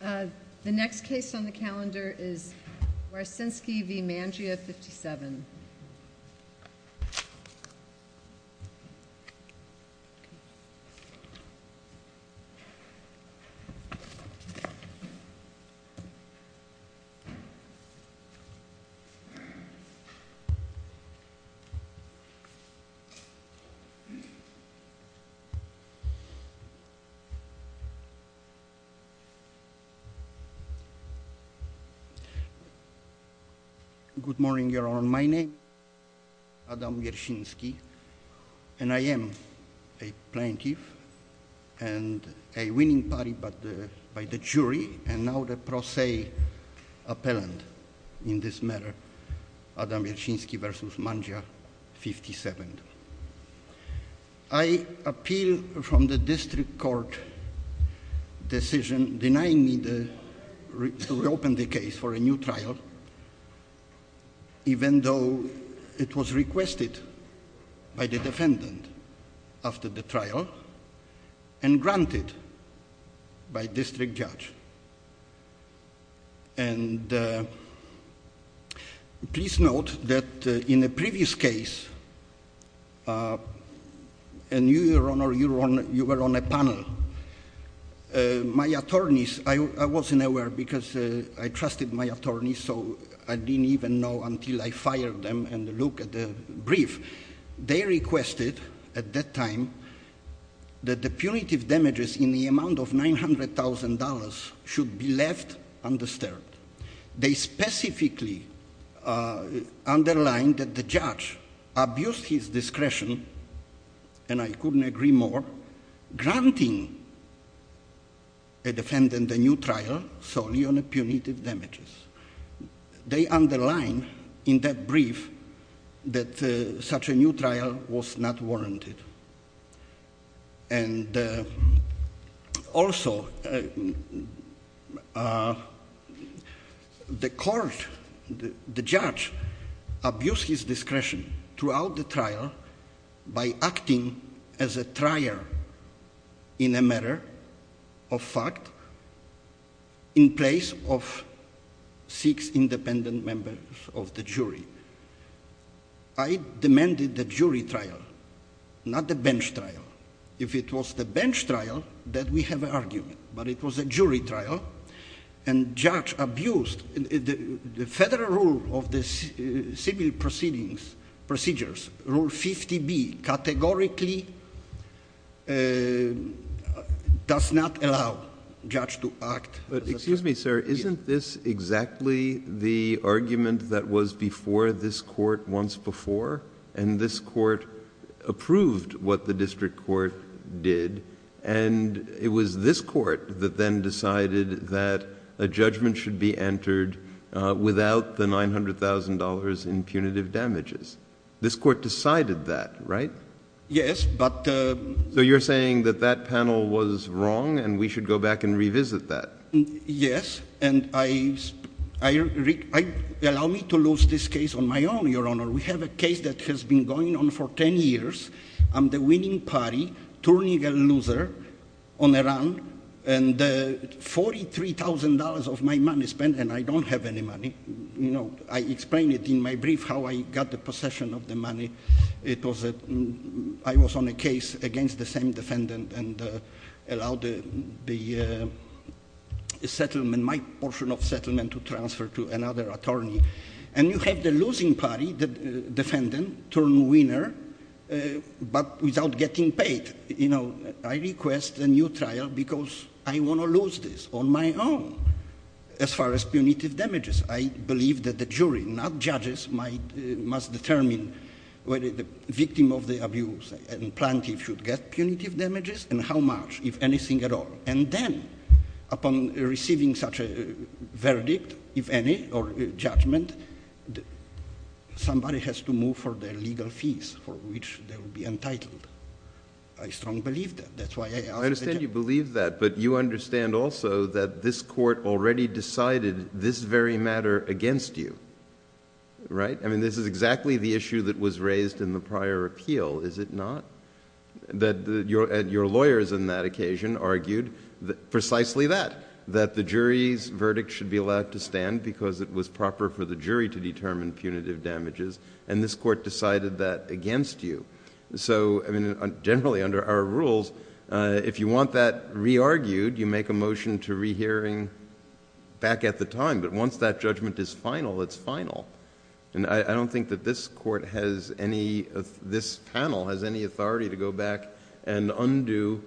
The next case on the calendar is Wiercinski v. Mangia 57. Good morning, Your Honor. My name is Adam Wiercinski, and I am a plaintiff and a winning party by the jury, and now the pro se appellant in this matter, Adam Wiercinski v. Mangia 57. I appeal from the district court decision denying me to reopen the case for a new trial, even though it was requested by the defendant after the trial and granted by district judge. And please note that in the previous case, and you, Your Honor, you were on a panel, my attorneys, I wasn't aware because I trusted my attorneys, so I didn't even know until I fired them and looked at the brief. They requested at that time that the punitive damages in the amount of $900,000 should be left undisturbed. They specifically underlined that the judge abused his discretion, and I couldn't agree more, granting a defendant a new trial solely on punitive damages. They underlined in that brief that such a new trial was not warranted. And also, the court, the judge abused his discretion throughout the trial by acting as a trier in a matter of fact in place of six independent members of the jury. I demanded the jury trial, not the bench trial. If it was the bench trial, then we have an argument, but it was a jury trial, and judge abused the federal rule of the civil proceedings, procedures, Rule 50B, categorically does not allow judge to act as a trier. Excuse me, sir. Isn't this exactly the argument that was before this court once before? And this court approved what the district court did, and it was this court that then decided that a judgment should be entered without the $900,000 in punitive damages. This court decided that, right? Yes, but— So you're saying that that panel was wrong, and we should go back and revisit that? Yes, and allow me to lose this case on my own, Your Honor. We have a case that has been going on for 10 years. I'm the winning party, turning a loser on a run, and $43,000 of my money spent, and I don't have any money. I explained it in my brief how I got the possession of the money. It was a—I was on a case against the same defendant and allowed the settlement, my portion of settlement, to transfer to another attorney. And you have the losing party, the defendant, turn winner, but without getting paid. You know, I request a new trial because I want to lose this on my own as far as punitive damages. I believe that the jury, not judges, must determine whether the victim of the abuse and plaintiff should get punitive damages and how much, if anything at all. And then, upon receiving such a verdict, if any, or judgment, somebody has to move for their legal fees for which they will be entitled. I strongly believe that. That's why I asked— But you understand also that this court already decided this very matter against you, right? I mean, this is exactly the issue that was raised in the prior appeal, is it not? That your lawyers on that occasion argued precisely that, that the jury's verdict should be allowed to stand because it was proper for the jury to determine punitive damages, and this court decided that against you. So, generally, under our rules, if you want that re-argued, you make a motion to re-hearing back at the time, but once that judgment is final, it's final. And I don't think that this court has any— this panel has any authority to go back and undo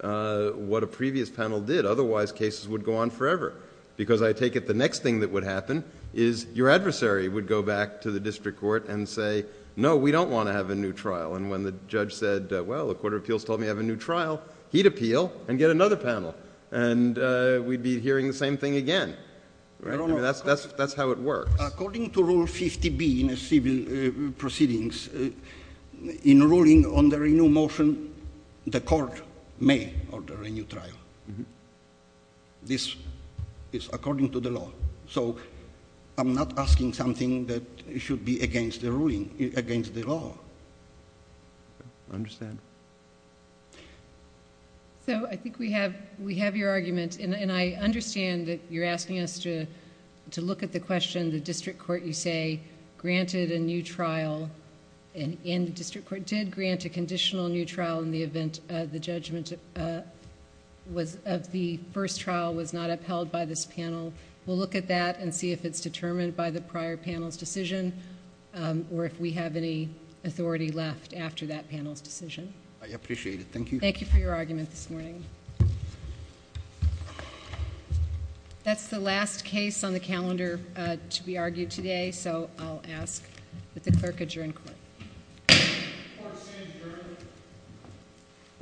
what a previous panel did. Otherwise, cases would go on forever because I take it the next thing that would happen is your adversary would go back to the district court and say, no, we don't want to have a new trial. And when the judge said, well, the Court of Appeals told me to have a new trial, he'd appeal and get another panel. And we'd be hearing the same thing again. I mean, that's how it works. According to Rule 50B in civil proceedings, in ruling on the renewal motion, the court may order a new trial. This is according to the law. So, I'm not asking something that should be against the ruling, against the law. I understand. So, I think we have your argument, and I understand that you're asking us to look at the question, the district court, you say, granted a new trial, and the district court did grant a conditional new trial in the event the judgment of the first trial was not upheld by this panel. We'll look at that and see if it's determined by the prior panel's decision or if we have any authority left after that panel's decision. I appreciate it. Thank you. Thank you for your argument this morning. That's the last case on the calendar to be argued today, so I'll ask that the clerk adjourn court. Court is adjourned.